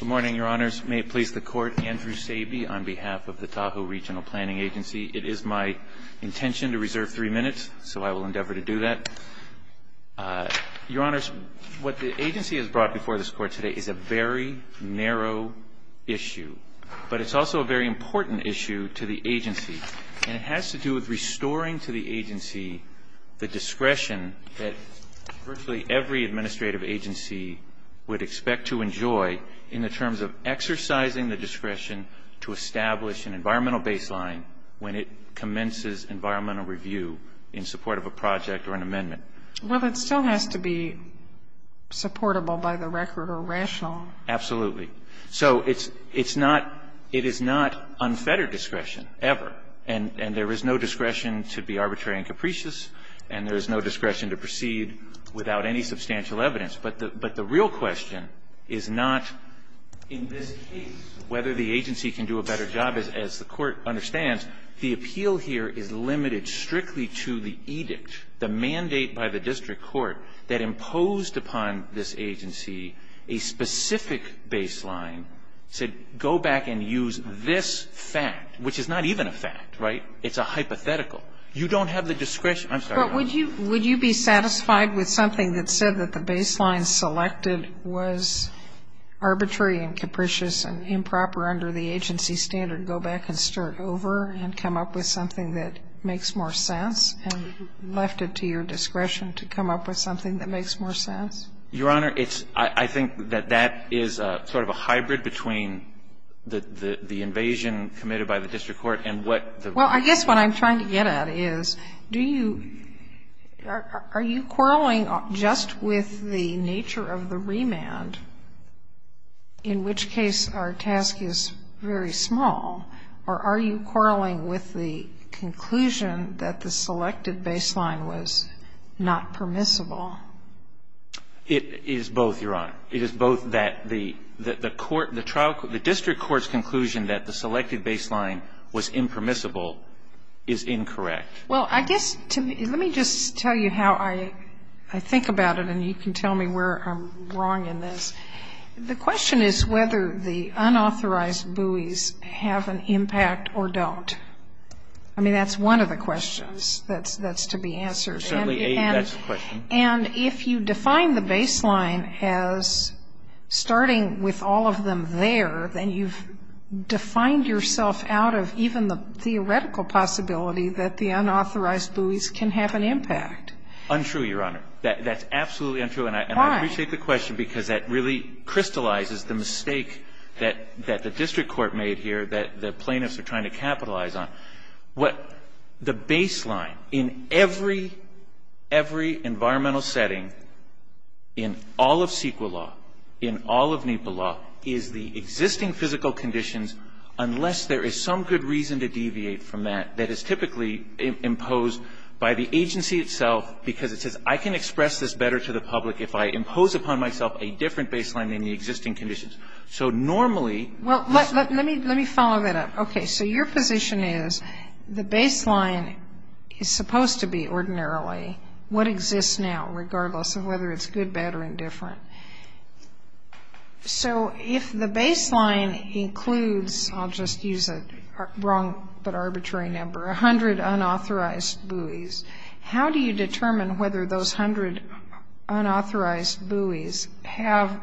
Good morning, Your Honors. May it please the Court, Andrew Sabe on behalf of the Tahoe Regional Planning Agency. It is my intention to reserve three minutes, so I will endeavor to do that. Your Honors, what the agency has brought before this Court today is a very narrow issue, but it's also a very important issue to the agency, and it has to do with restoring to the agency the discretion that virtually every administrative agency would expect to enjoy in the terms of exercising the discretion to establish an environmental baseline when it commences environmental review in support of a project or an amendment. Well, it still has to be supportable by the record or rational. Absolutely. So it is not unfettered discretion ever, and there is no discretion to be arbitrary and capricious, and there is no discretion to proceed without any substantial evidence. But the real question is not, in this case, whether the agency can do a better job. As the Court understands, the appeal here is limited strictly to the edict, the mandate by the district court that imposed upon this agency a specific baseline to go back and use this fact, which is not even a fact, right? It's a hypothetical. You don't have the discretion to do that. So if the baseline selected was arbitrary and capricious and improper under the agency standard, go back and stir it over and come up with something that makes more sense and left it to your discretion to come up with something that makes more sense? Your Honor, it's – I think that that is sort of a hybrid between the invasion Well, I guess what I'm trying to get at is, do you – are you quarreling just with the nature of the remand, in which case our task is very small, or are you quarreling with the conclusion that the selected baseline was not permissible? It is both, Your Honor. It is both that the court – the district court's conclusion that the selected baseline was impermissible is incorrect. Well, I guess to me – let me just tell you how I think about it, and you can tell me where I'm wrong in this. The question is whether the unauthorized buoys have an impact or don't. I mean, that's one of the questions that's to be answered. Certainly, A, that's the question. And if you define the baseline as starting with all of them there, then you've defined yourself out of even the theoretical possibility that the unauthorized buoys can have an impact. Untrue, Your Honor. That's absolutely untrue. Why? And I appreciate the question because that really crystallizes the mistake that the district court made here that the plaintiffs are trying to capitalize on. What – the baseline in every – every environmental setting in all of CEQA law, in all of NEPA law, is the existing physical conditions, unless there is some good reason to deviate from that. That is typically imposed by the agency itself because it says I can express this better to the public if I impose upon myself a different baseline than the existing conditions. So normally – Well, let me – let me follow that up. Okay. So your position is the baseline is supposed to be ordinarily what exists now, regardless of whether it's good, bad, or indifferent. So if the baseline includes – I'll just use a wrong but arbitrary number – 100 unauthorized buoys, how do you determine whether those 100 unauthorized buoys have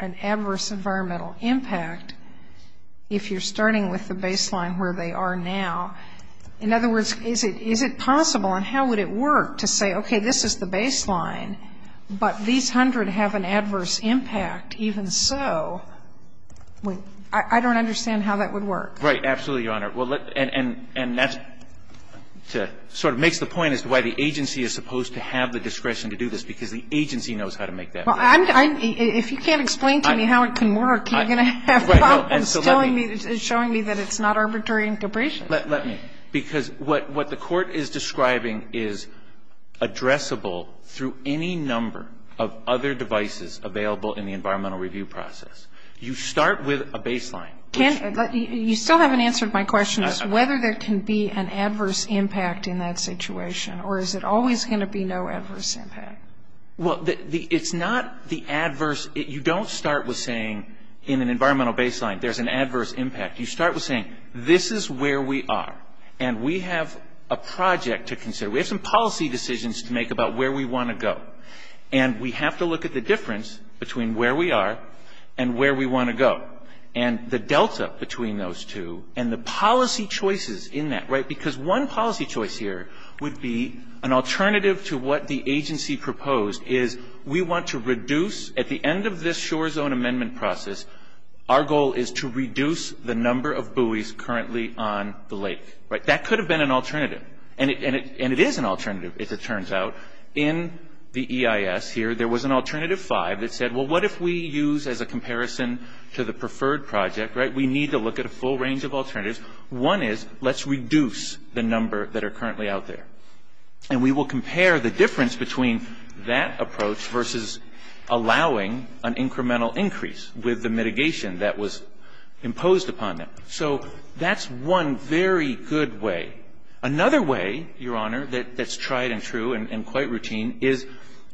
an adverse environmental impact if you're starting with the baseline where they are now? In other words, is it – is it possible and how would it work to say, okay, this is the baseline, but these 100 have an adverse impact even so – I don't understand how that would work. Right. Absolutely, Your Honor. Well, let – and that's to – sort of makes the point as to why the agency is supposed to have the discretion to do this, because the agency knows how to make that work. Well, I'm – if you can't explain to me how it can work, you're going to have a problem instilling me – showing me that it's not arbitrary and capricious. Let me. Because what the court is describing is addressable through any number of other devices available in the environmental review process. You start with a baseline. Can – you still haven't answered my question as to whether there can be an adverse impact in that situation, or is it always going to be no adverse impact? Well, the – it's not the adverse – you don't start with saying in an environmental baseline there's an adverse impact. You start with saying this is where we are, and we have a project to consider. We have some policy decisions to make about where we want to go, and we have to look at the difference between where we are and where we want to go, and the delta between those two, and the policy choices in that, right? Because one of the things that the agency proposed is we want to reduce – at the end of this shore zone amendment process, our goal is to reduce the number of buoys currently on the lake, right? That could have been an alternative, and it is an alternative, as it turns out. In the EIS here, there was an alternative five that said, well, what if we use as a comparison to the preferred project, right? We need to look at a full range of alternatives. One is let's reduce the number that are currently out there, and we will compare the difference between that approach versus allowing an incremental increase with the mitigation that was imposed upon them. So that's one very good way. Another way, Your Honor, that's tried and true and quite routine is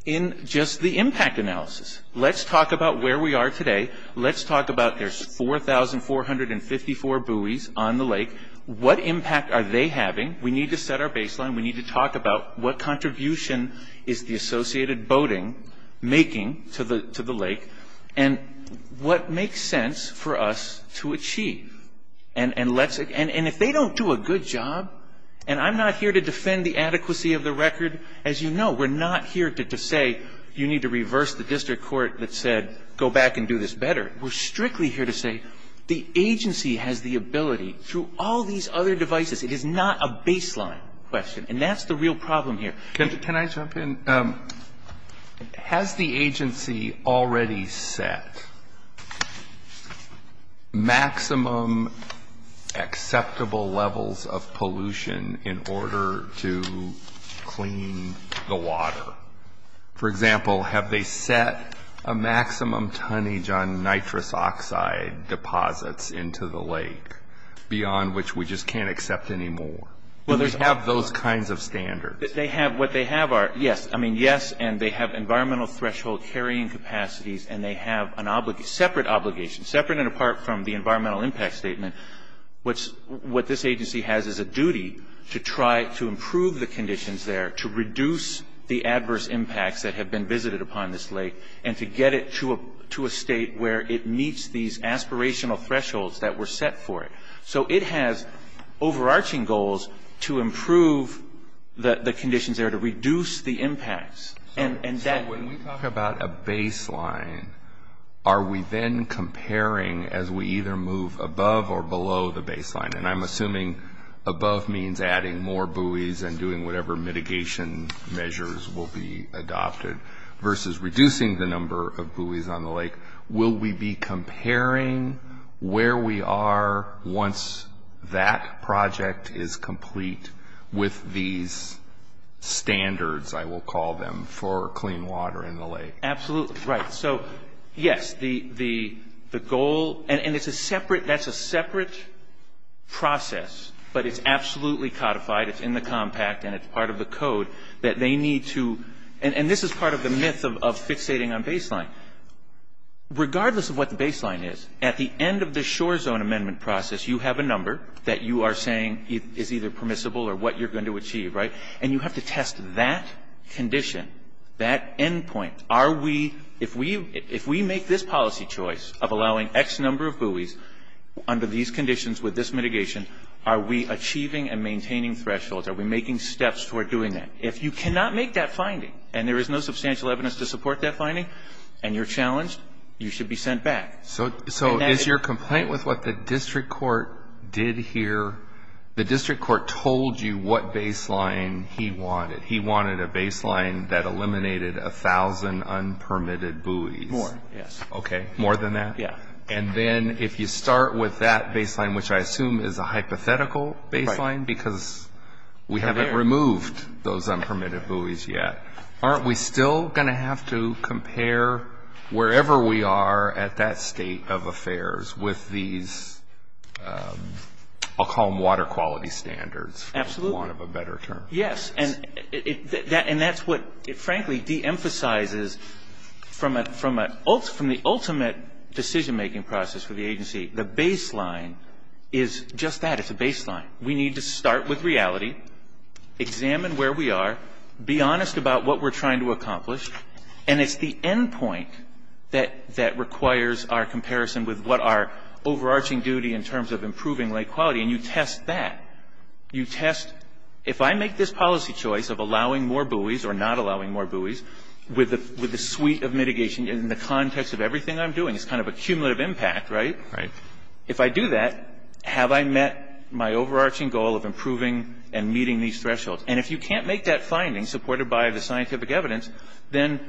in just the impact analysis. Let's talk about where we are today. Let's talk about there's 4,454 buoys on the lake. What impact are they having? We need to set our baseline. We need to talk about what contribution is the associated boating making to the lake and what makes sense for us to achieve. And if they don't do a good job, and I'm not here to defend the adequacy of the record, as you know, we're not here to say you need to reverse the district court that said go back and do this better. We're strictly here to say the agency has the ability through all these other devices. It is not a baseline question, and that's the real problem here. Can I jump in? Has the agency already set maximum acceptable levels of pollution in order to clean the water? For example, have they set a maximum tonnage on nitrous oxide deposits into the lake beyond which we just can't accept anymore? Well, they have those kinds of standards. What they have are, yes, I mean, yes, and they have environmental threshold carrying capacities, and they have separate obligations. Separate and apart from the environmental impact statement, what this agency has is a duty to try to improve the conditions there, to reduce the adverse impacts that have been visited upon this lake, and to get it to a state where it meets these aspirational thresholds that were set for it. So it has overarching goals to improve the conditions there, to reduce the impacts, and that... So when we talk about a baseline, are we then comparing as we either move above or below the baseline? And I'm assuming above means adding more buoys and doing whatever mitigation measures will be adopted versus reducing the number of buoys on the lake. Will we be comparing where we are once that project is complete with these standards, I will call them, for clean water in the lake? Absolutely. Right. So, yes, the goal... And it's a separate... That's a separate process, but it's absolutely codified. It's in the compact, and it's part of the code that they need to... And this is part of the myth of fixating on baseline. Regardless of what the baseline is, at the end of the shore zone amendment process, you have a number that you are saying is either permissible or what you're going to achieve, right? And you have to test that condition, that endpoint. Are we... If we make this policy choice of allowing X number of buoys under these conditions with this mitigation, are we achieving and maintaining thresholds? Are we making steps toward doing that? If you cannot make that finding, and there is no substantial evidence to support that finding, and you're challenged, you should be sent back. So, is your complaint with what the district court did here... The district court told you what baseline he wanted. He wanted a baseline that eliminated 1,000 unpermitted buoys. More, yes. Okay. More than that? Yeah. And then, if you start with that baseline, which I assume is a hypothetical baseline, because we haven't removed those unpermitted buoys yet, aren't we still going to have to be in a state of affairs with these... I'll call them water quality standards, for want of a better term. Absolutely. Yes. And that's what, frankly, de-emphasizes from the ultimate decision-making process for the agency, the baseline is just that. It's a baseline. We need to start with reality, examine where we are, be honest about what we're trying to accomplish, and it's the end point that requires our comparison with what our overarching duty in terms of improving lake quality, and you test that. You test, if I make this policy choice of allowing more buoys or not allowing more buoys, with the suite of mitigation in the context of everything I'm doing, it's kind of a cumulative impact, right? Right. If I do that, have I met my overarching goal of improving and meeting these thresholds? And if you can't make that finding, supported by the scientific evidence, then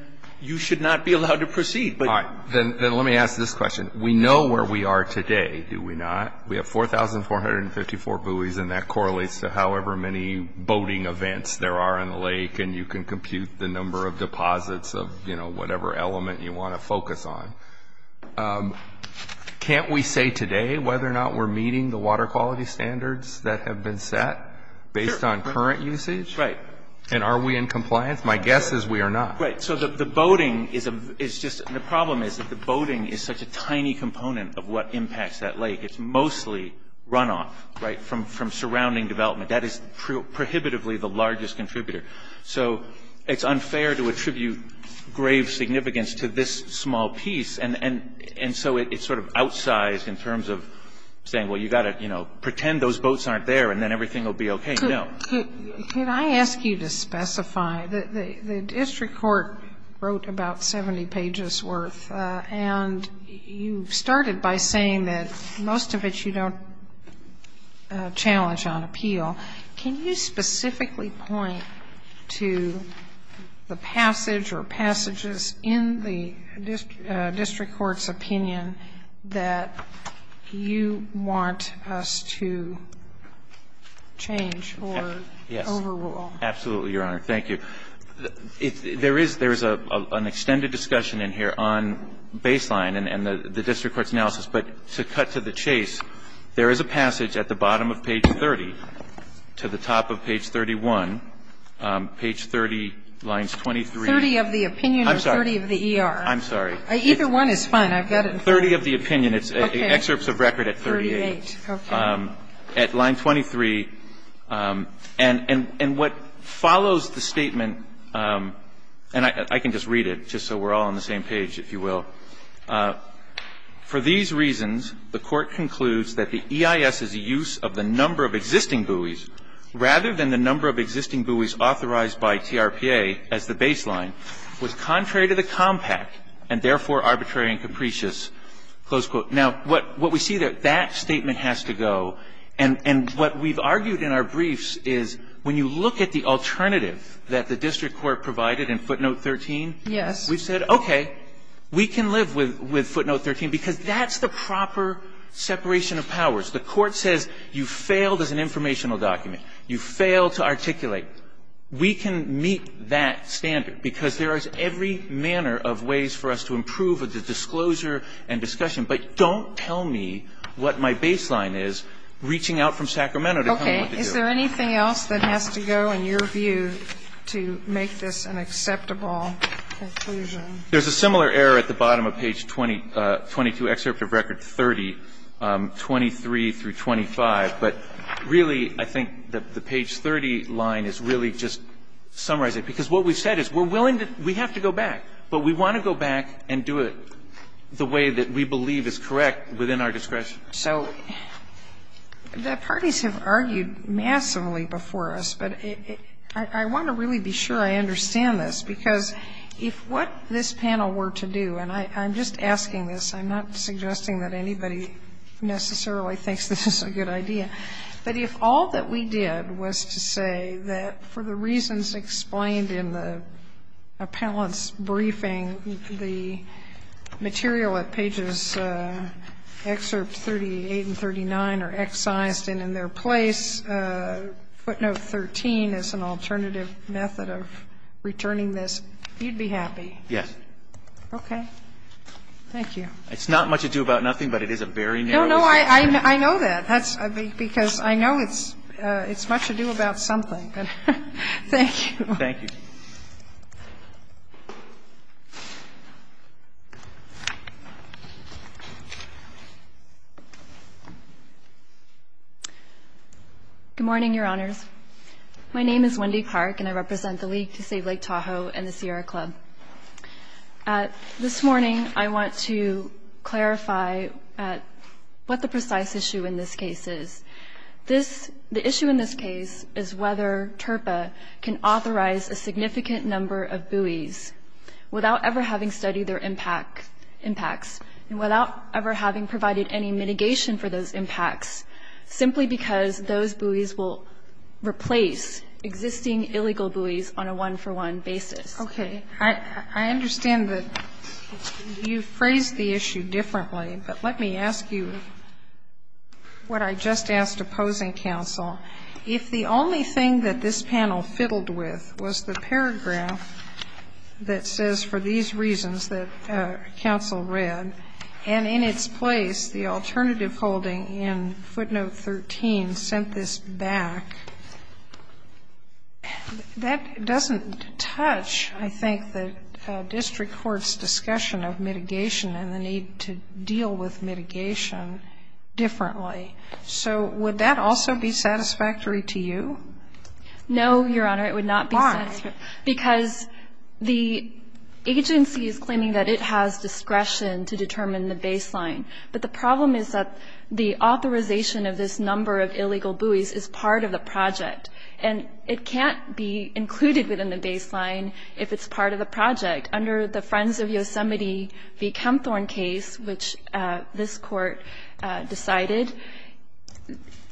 you should not be allowed to proceed. All right. Then let me ask this question. We know where we are today, do we not? We have 4,454 buoys, and that correlates to however many boating events there are in the lake, and you can compute the number of deposits of whatever element you want to focus on. Can't we say today whether or not we're meeting the water quality standards that have been set based on current usage? Right. And are we in compliance? My guess is we are not. Right. So the boating is just the problem is that the boating is such a tiny component of what impacts that lake. It's mostly runoff, right, from surrounding development. That is prohibitively the largest contributor. So it's unfair to attribute grave significance to this small piece, and so it's sort of outsized in terms of saying, well, you've got to, you know, pretend those boats aren't there, and then everything will be okay. No. Could I ask you to specify, the district court wrote about 70 pages worth, and you started by saying that most of it you don't challenge on appeal. Can you specifically point to the passage or passages in the district court's opinion that you want us to change or change or overrule? Yes. Absolutely, Your Honor. Thank you. There is an extended discussion in here on baseline and the district court's analysis, but to cut to the chase, there is a passage at the bottom of page 30 to the top of page 31, page 30, lines 23. 30 of the opinion or 30 of the ER? I'm sorry. Either one is fine. I've got it in front of me. 30 of the opinion. It's excerpts of record at 38. Okay. At line 23. And what follows the statement, and I can just read it just so we're all on the same page, if you will. For these reasons, the Court concludes that the EIS's use of the number of existing buoys rather than the number of existing buoys authorized by TRPA as the baseline was contrary to the compact and therefore arbitrary and capricious, close quote. Now, what we see there, that statement has to go. And what we've argued in our briefs is when you look at the alternative that the district court provided in footnote 13. Yes. We've said, okay, we can live with footnote 13 because that's the proper separation of powers. The Court says you failed as an informational document. You failed to articulate. We can meet that standard because there is every manner of ways for us to improve with the disclosure and discussion. But don't tell me what my baseline is reaching out from Sacramento to tell me what to do. Okay. Is there anything else that has to go in your view to make this an acceptable conclusion? There's a similar error at the bottom of page 22, excerpt of record 30, 23 through 25. But really, I think the page 30 line is really just summarizing. And I think that's a good point, because what we've said is we're willing to go back, but we want to go back and do it the way that we believe is correct within our discretion. So the parties have argued massively before us, but I want to really be sure I understand this, because if what this panel were to do, and I'm just asking this, I'm not suggesting that anybody necessarily thinks this is a good idea, but if all that we did was to say that for the reasons explained in the appellant's briefing, the material at pages excerpts 38 and 39 are excised and in their place. Footnote 13 is an alternative method of returning this. You'd be happy. Yes. Okay. Thank you. It's not much ado about nothing, but it is a very narrow discussion. No, I know that, because I know it's much ado about something. Thank you. Thank you. Good morning, Your Honors. My name is Wendy Clark, and I represent the League to Save Lake Tahoe and the Sierra Club. This morning, I want to clarify what the precise issue in this case is. The issue in this case is whether TRPA can authorize a significant number of buoys without ever having studied their impacts and without ever having provided any mitigation for those impacts, simply because those buoys will replace existing illegal buoys on a one-for-one basis. Okay. I understand that you phrased the issue differently, but let me ask you what I just asked opposing counsel. If the only thing that this panel fiddled with was the paragraph that says, for these reasons that counsel read, and in its place, the alternative holding in footnote 13 sent this back, that doesn't touch, I think, the district court's discussion of mitigation and the need to deal with mitigation differently. So would that also be satisfactory to you? No, Your Honor, it would not be satisfactory. Why? Because the agency is claiming that it has discretion to determine the baseline. But the problem is that the authorization of this number of illegal buoys is part of the project, and it can't be included within the baseline if it's part of the project. Under the Friends of Yosemite v. Kempthorne case, which this Court decided,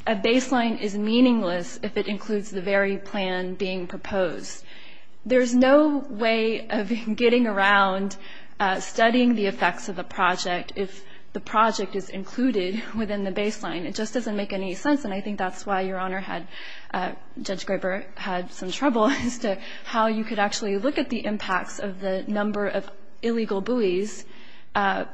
a baseline is meaningless if it includes the very plan being proposed. There's no way of getting around studying the effects of a project if the project is included within the baseline. It just doesn't make any sense, and I think that's why Your Honor had Judge Graber had some trouble as to how you could actually look at the impacts of the number of illegal buoys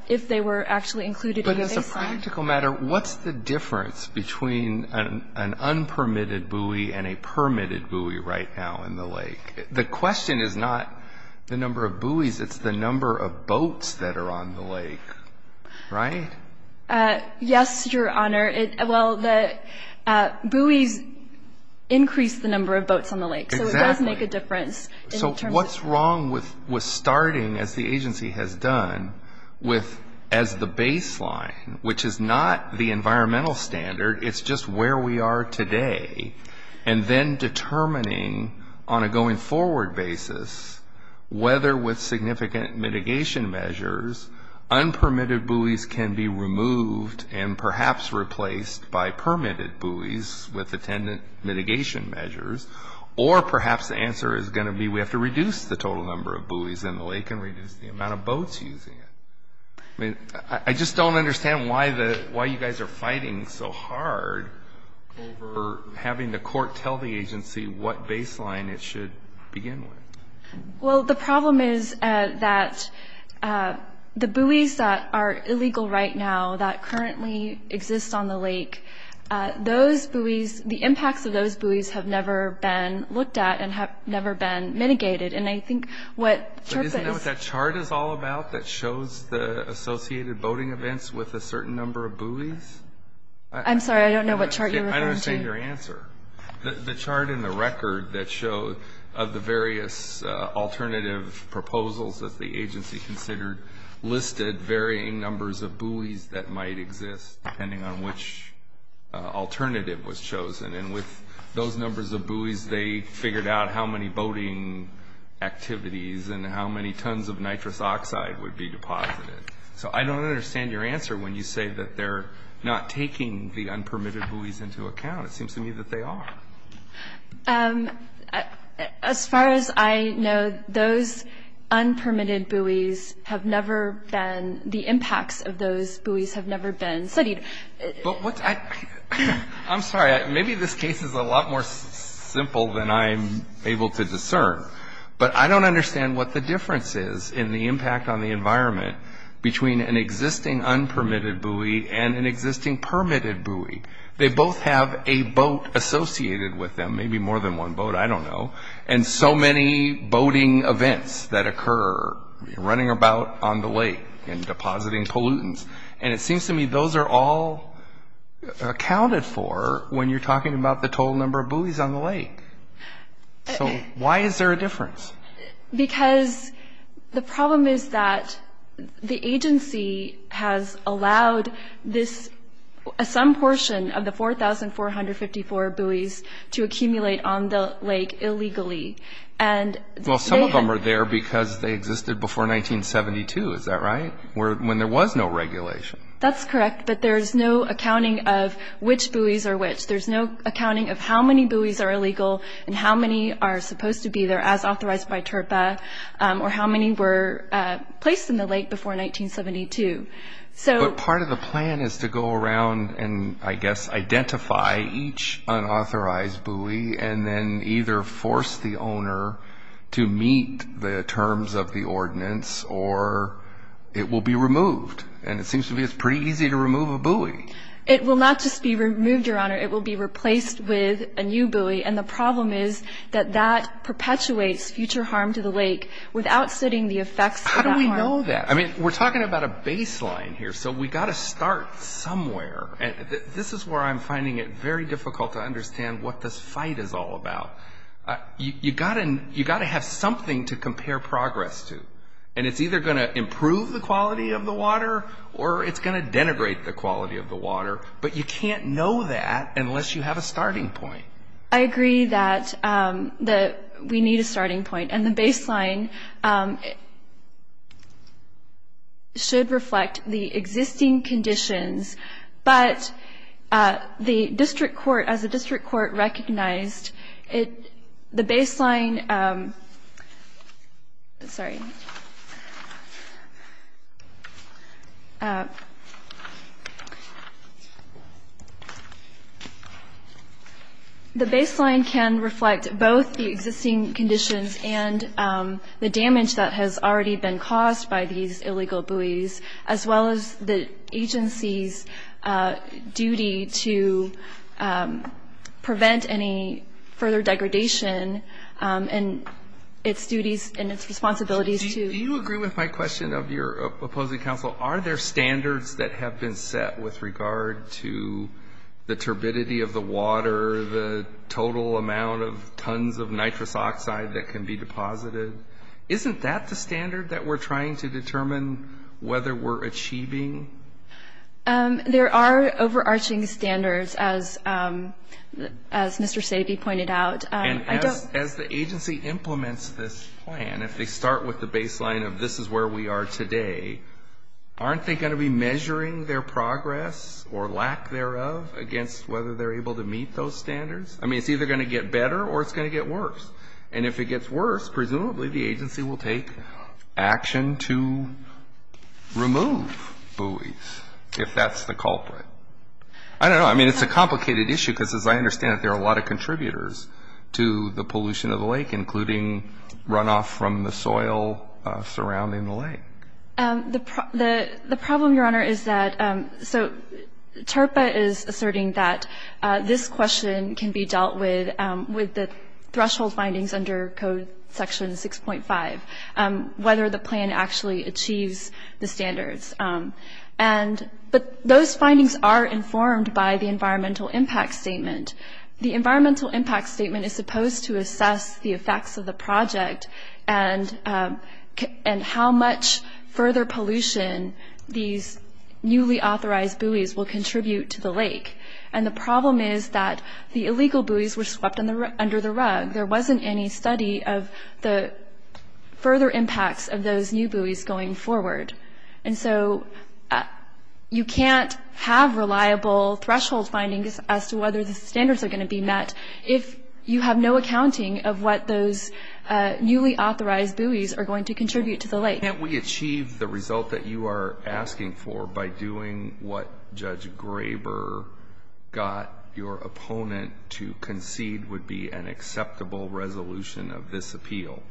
if they were actually included in the baseline. But as a practical matter, what's the difference between an unpermitted buoy and a permitted buoy right now in the lake? The question is not the number of buoys. It's the number of boats that are on the lake, right? Yes, Your Honor. Well, the buoys increase the number of boats on the lake. Exactly. So it does make a difference. So what's wrong with starting, as the agency has done, with as the baseline, which is not the environmental standard, it's just where we are today, and then determining on a going-forward basis whether, with significant mitigation measures, unpermitted buoys can be removed and perhaps replaced by permitted buoys with attendant mitigation measures, or perhaps the answer is going to be we have to reduce the total number of buoys in the lake and reduce the amount of boats using it. I mean, I just don't understand why you guys are fighting so hard over having the court tell the agency what baseline it should begin with. Well, the problem is that the buoys that are illegal right now that currently exist on the lake, those buoys, the impacts of those buoys have never been looked at and have never been mitigated. And I think what CHRP is… Associated boating events with a certain number of buoys? I'm sorry, I don't know what chart you're referring to. I don't understand your answer. The chart in the record that showed of the various alternative proposals that the agency considered listed varying numbers of buoys that might exist, depending on which alternative was chosen. And with those numbers of buoys, they figured out how many boating activities and how many tons of nitrous oxide would be deposited. So I don't understand your answer when you say that they're not taking the unpermitted buoys into account. It seems to me that they are. As far as I know, those unpermitted buoys have never been – the impacts of those buoys have never been studied. I'm sorry. Maybe this case is a lot more simple than I'm able to discern. But I don't understand what the difference is in the impact on the environment between an existing unpermitted buoy and an existing permitted buoy. They both have a boat associated with them, maybe more than one boat, I don't know, and so many boating events that occur, running about on the lake and depositing pollutants. And it seems to me those are all accounted for when you're talking about the total number of buoys on the lake. So why is there a difference? Because the problem is that the agency has allowed this – some portion of the 4,454 buoys to accumulate on the lake illegally. Well, some of them are there because they existed before 1972. Is that right? When there was no regulation. That's correct, but there's no accounting of which buoys are which. There's no accounting of how many buoys are illegal and how many are supposed to be there as authorized by TURPA or how many were placed in the lake before 1972. But part of the plan is to go around and, I guess, identify each unauthorized buoy and then either force the owner to meet the terms of the ordinance or it will be removed. It will not just be removed, Your Honor. It will be replaced with a new buoy. And the problem is that that perpetuates future harm to the lake without studying the effects of that harm. How do we know that? I mean, we're talking about a baseline here, so we've got to start somewhere. And this is where I'm finding it very difficult to understand what this fight is all about. You've got to have something to compare progress to. And it's either going to improve the quality of the water or it's going to denigrate the quality of the water. But you can't know that unless you have a starting point. I agree that we need a starting point. And the baseline should reflect the existing conditions. But the district court, as the district court recognized, the baseline can reflect both the existing conditions and the damage that has already been caused by these illegal buoys as well as the agency's duty to prevent any further degradation and its duties and its responsibilities to... Do you agree with my question of your opposing counsel? Are there standards that have been set with regard to the turbidity of the water, the total amount of tons of nitrous oxide that can be deposited? Isn't that the standard that we're trying to determine whether we're achieving? There are overarching standards, as Mr. Sabe pointed out. And as the agency implements this plan, if they start with the baseline of this is where we are today, aren't they going to be measuring their progress or lack thereof against whether they're able to meet those standards? I mean, it's either going to get better or it's going to get worse. And if it gets worse, presumably the agency will take action to remove buoys, if that's the culprit. I don't know. I mean, it's a complicated issue because, as I understand it, there are a lot of contributors to the pollution of the lake, including runoff from the soil surrounding the lake. The problem, Your Honor, is that so TARPA is asserting that this question can be dealt with with the threshold findings under Code Section 6.5, whether the plan actually achieves the standards. But those findings are informed by the environmental impact statement. The environmental impact statement is supposed to assess the effects of the project and how much further pollution these newly authorized buoys will contribute to the lake. And the problem is that the illegal buoys were swept under the rug. There wasn't any study of the further impacts of those new buoys going forward. And so you can't have reliable threshold findings as to whether the standards are going to be met if you have no accounting of what those newly authorized buoys are going to contribute to the lake. Can't we achieve the result that you are asking for by doing what Judge Graber got your opponent to concede would be an acceptable resolution of this appeal,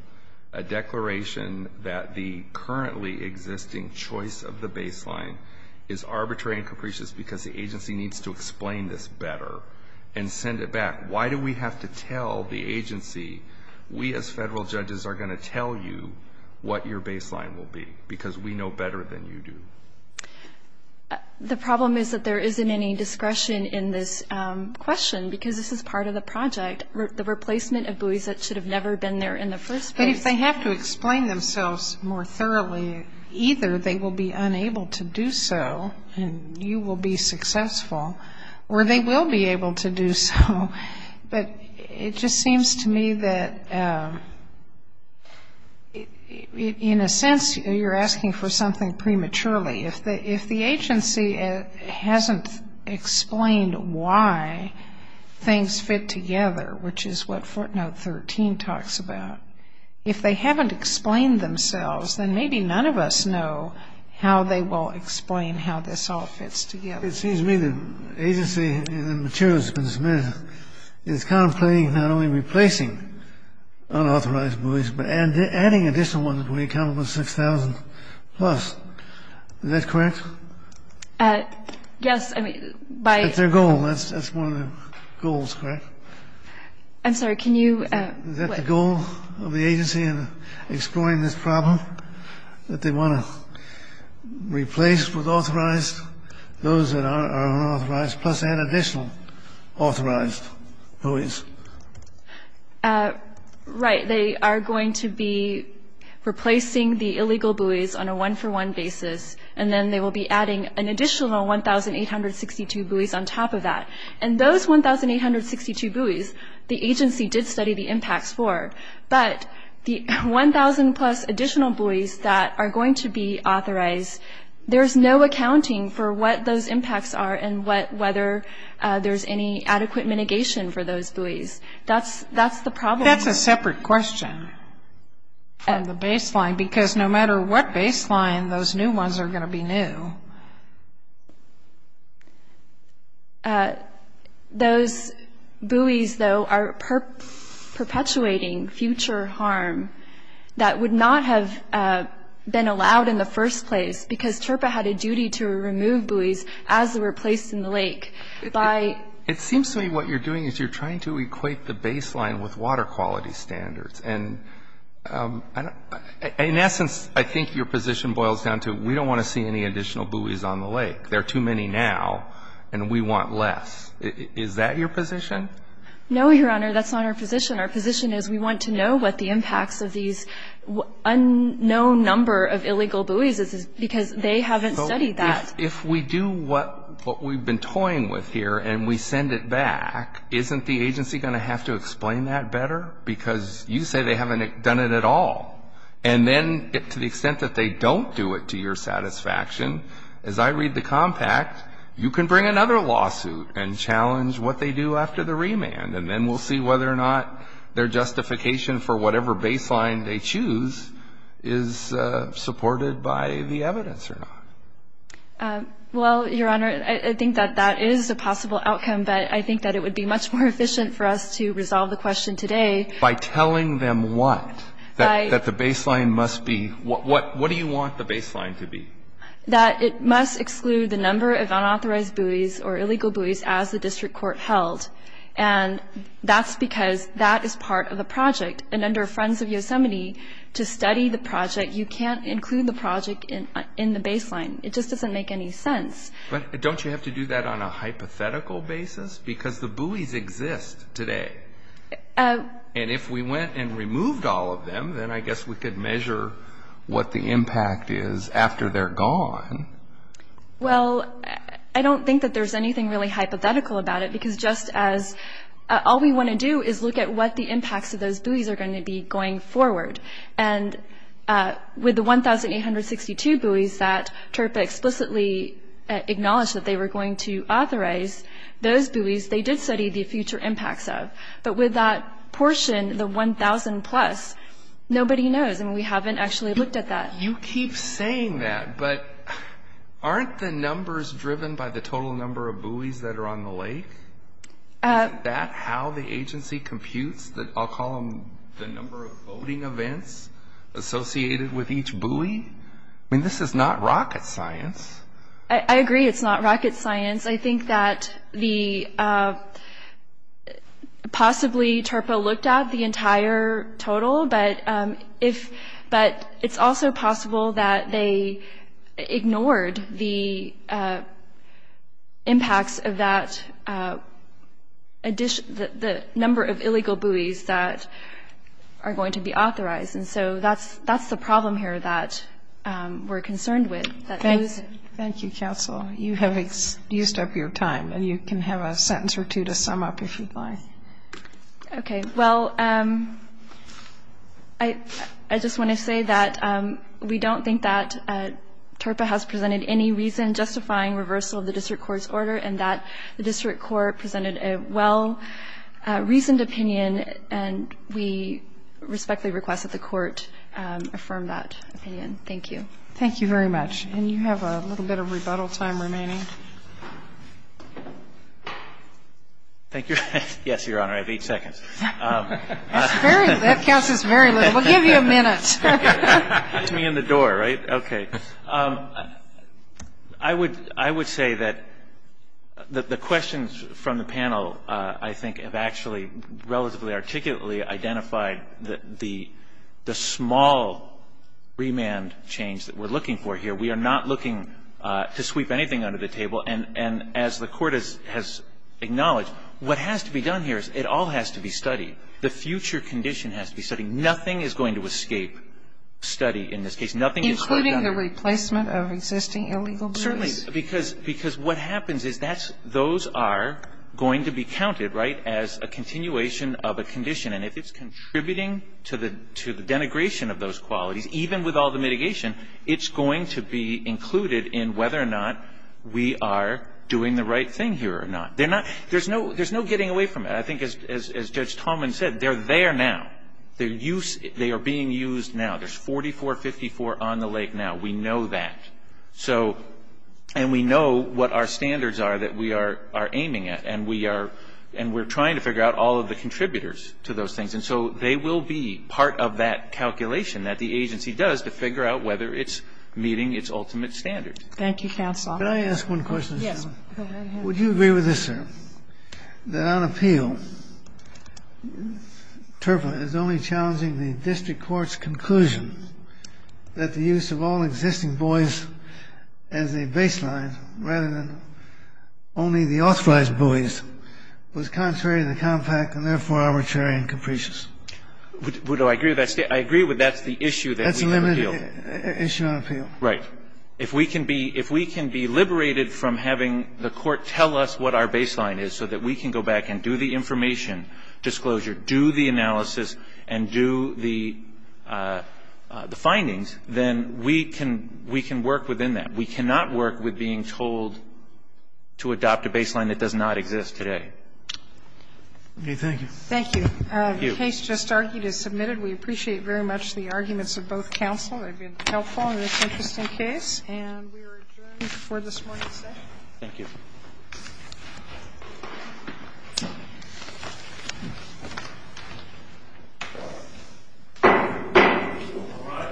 a declaration that the currently existing choice of the baseline is arbitrary and capricious because the agency needs to explain this better and send it back? Why do we have to tell the agency, we as federal judges are going to tell you what your baseline will be? Because we know better than you do. The problem is that there isn't any discretion in this question because this is part of the project. The replacement of buoys that should have never been there in the first place. But if they have to explain themselves more thoroughly, either they will be unable to do so and you will be successful, or they will be able to do so. But it just seems to me that in a sense you're asking for something prematurely. If the agency hasn't explained why things fit together, which is what footnote 13 talks about, if they haven't explained themselves, then maybe none of us know how they will explain how this all fits together. It seems to me the agency and the materials that have been submitted is contemplating not only replacing unauthorized buoys but adding additional ones when you count them as 6,000 plus. Is that correct? Yes. That's their goal. That's one of their goals, correct? I'm sorry. Is that the goal of the agency in exploring this problem, that they want to replace with authorized those that are unauthorized, plus add additional authorized buoys? Right. They are going to be replacing the illegal buoys on a one-for-one basis, and then they will be adding an additional 1,862 buoys on top of that. And those 1,862 buoys, the agency did study the impacts for, but the 1,000 plus additional buoys that are going to be authorized, there's no accounting for what those impacts are and whether there's any adequate mitigation for those buoys. That's the problem. That's a separate question on the baseline, because no matter what baseline, those new ones are going to be new. Those buoys, though, are perpetuating future harm that would not have been allowed in the first place, because TRPA had a duty to remove buoys as they were placed in the lake. It seems to me what you're doing is you're trying to equate the baseline with water quality standards. And in essence, I think your position boils down to we don't want to see any additional buoys on the lake. There are too many now, and we want less. Is that your position? No, Your Honor. That's not our position. Our position is we want to know what the impacts of these unknown number of illegal buoys is, because they haven't studied that. If we do what we've been toying with here and we send it back, isn't the agency going to have to explain that better? Because you say they haven't done it at all. And then to the extent that they don't do it to your satisfaction, as I read the compact, you can bring another lawsuit and challenge what they do after the remand, and then we'll see whether or not their justification for whatever baseline they choose is supported by the evidence or not. Well, Your Honor, I think that that is a possible outcome, but I think that it would be much more efficient for us to resolve the question today. By telling them what? That the baseline must be what? What do you want the baseline to be? That it must exclude the number of unauthorized buoys or illegal buoys as the district court held. And that's because that is part of a project. And under Friends of Yosemite, to study the project, you can't include the project in the baseline. It just doesn't make any sense. But don't you have to do that on a hypothetical basis? Because the buoys exist today. And if we went and removed all of them, then I guess we could measure what the impact is after they're gone. Well, I don't think that there's anything really hypothetical about it, because just as all we want to do is look at what the impacts of those buoys are going to be going forward. And with the 1,862 buoys that TRPA explicitly acknowledged that they were going to authorize, those buoys they did study the future impacts of. But with that portion, the 1,000 plus, nobody knows. I mean, we haven't actually looked at that. You keep saying that, but aren't the numbers driven by the total number of buoys that are on the lake? Isn't that how the agency computes the, I'll call them the number of voting events associated with each buoy? I mean, this is not rocket science. I agree it's not rocket science. I think that possibly TRPA looked at the entire total, but it's also possible that they ignored the impacts of that number of illegal buoys that are going to be authorized. And so that's the problem here that we're concerned with. Thank you, counsel. You have used up your time, and you can have a sentence or two to sum up if you'd like. Okay. Well, I just want to say that we don't think that TRPA has presented any reason justifying reversal of the district court's order and that the district court presented a well-reasoned opinion, and we respectfully request that the court affirm that opinion. Thank you. Thank you very much. And you have a little bit of rebuttal time remaining. Thank you. Yes, Your Honor, I have eight seconds. That counts as very little. We'll give you a minute. Hit me in the door, right? Okay. I would say that the questions from the panel, I think, have actually relatively articulately identified the small remand change that we're looking for here. We are not looking to sweep anything under the table. And as the Court has acknowledged, what has to be done here is it all has to be studied. The future condition has to be studied. Nothing is going to escape study in this case. Nothing is going to be done here. Including the replacement of existing illegal buoys? Well, certainly, because what happens is those are going to be counted, right, as a continuation of a condition. And if it's contributing to the denigration of those qualities, even with all the mitigation, it's going to be included in whether or not we are doing the right thing here or not. There's no getting away from it. I think, as Judge Tallman said, they're there now. They are being used now. There's 4454 on the lake now. We know that. And we know what our standards are that we are aiming at. And we are trying to figure out all of the contributors to those things. And so they will be part of that calculation that the agency does to figure out whether it's meeting its ultimate standards. Thank you, counsel. Can I ask one question? Yes. Go right ahead. Would you agree with this, sir, that on appeal, TERPA is only challenging the district court's conclusion that the use of all existing buoys as a baseline rather than only the authorized buoys was contrary to the compact and therefore arbitrary and capricious? Would I agree with that statement? I agree with that's the issue that we have to deal with. That's a limited issue on appeal. Right. If we can be liberated from having the court tell us what our baseline is so that we can go back and do the information disclosure, do the analysis, and do the findings, then we can work within that. We cannot work with being told to adopt a baseline that does not exist today. Okay. Thank you. Thank you. The case just argued is submitted. We appreciate very much the arguments of both counsel. They've been helpful in this interesting case. And we are adjourned for this morning's session. Thank you. Thank you. Thank you. Thank you.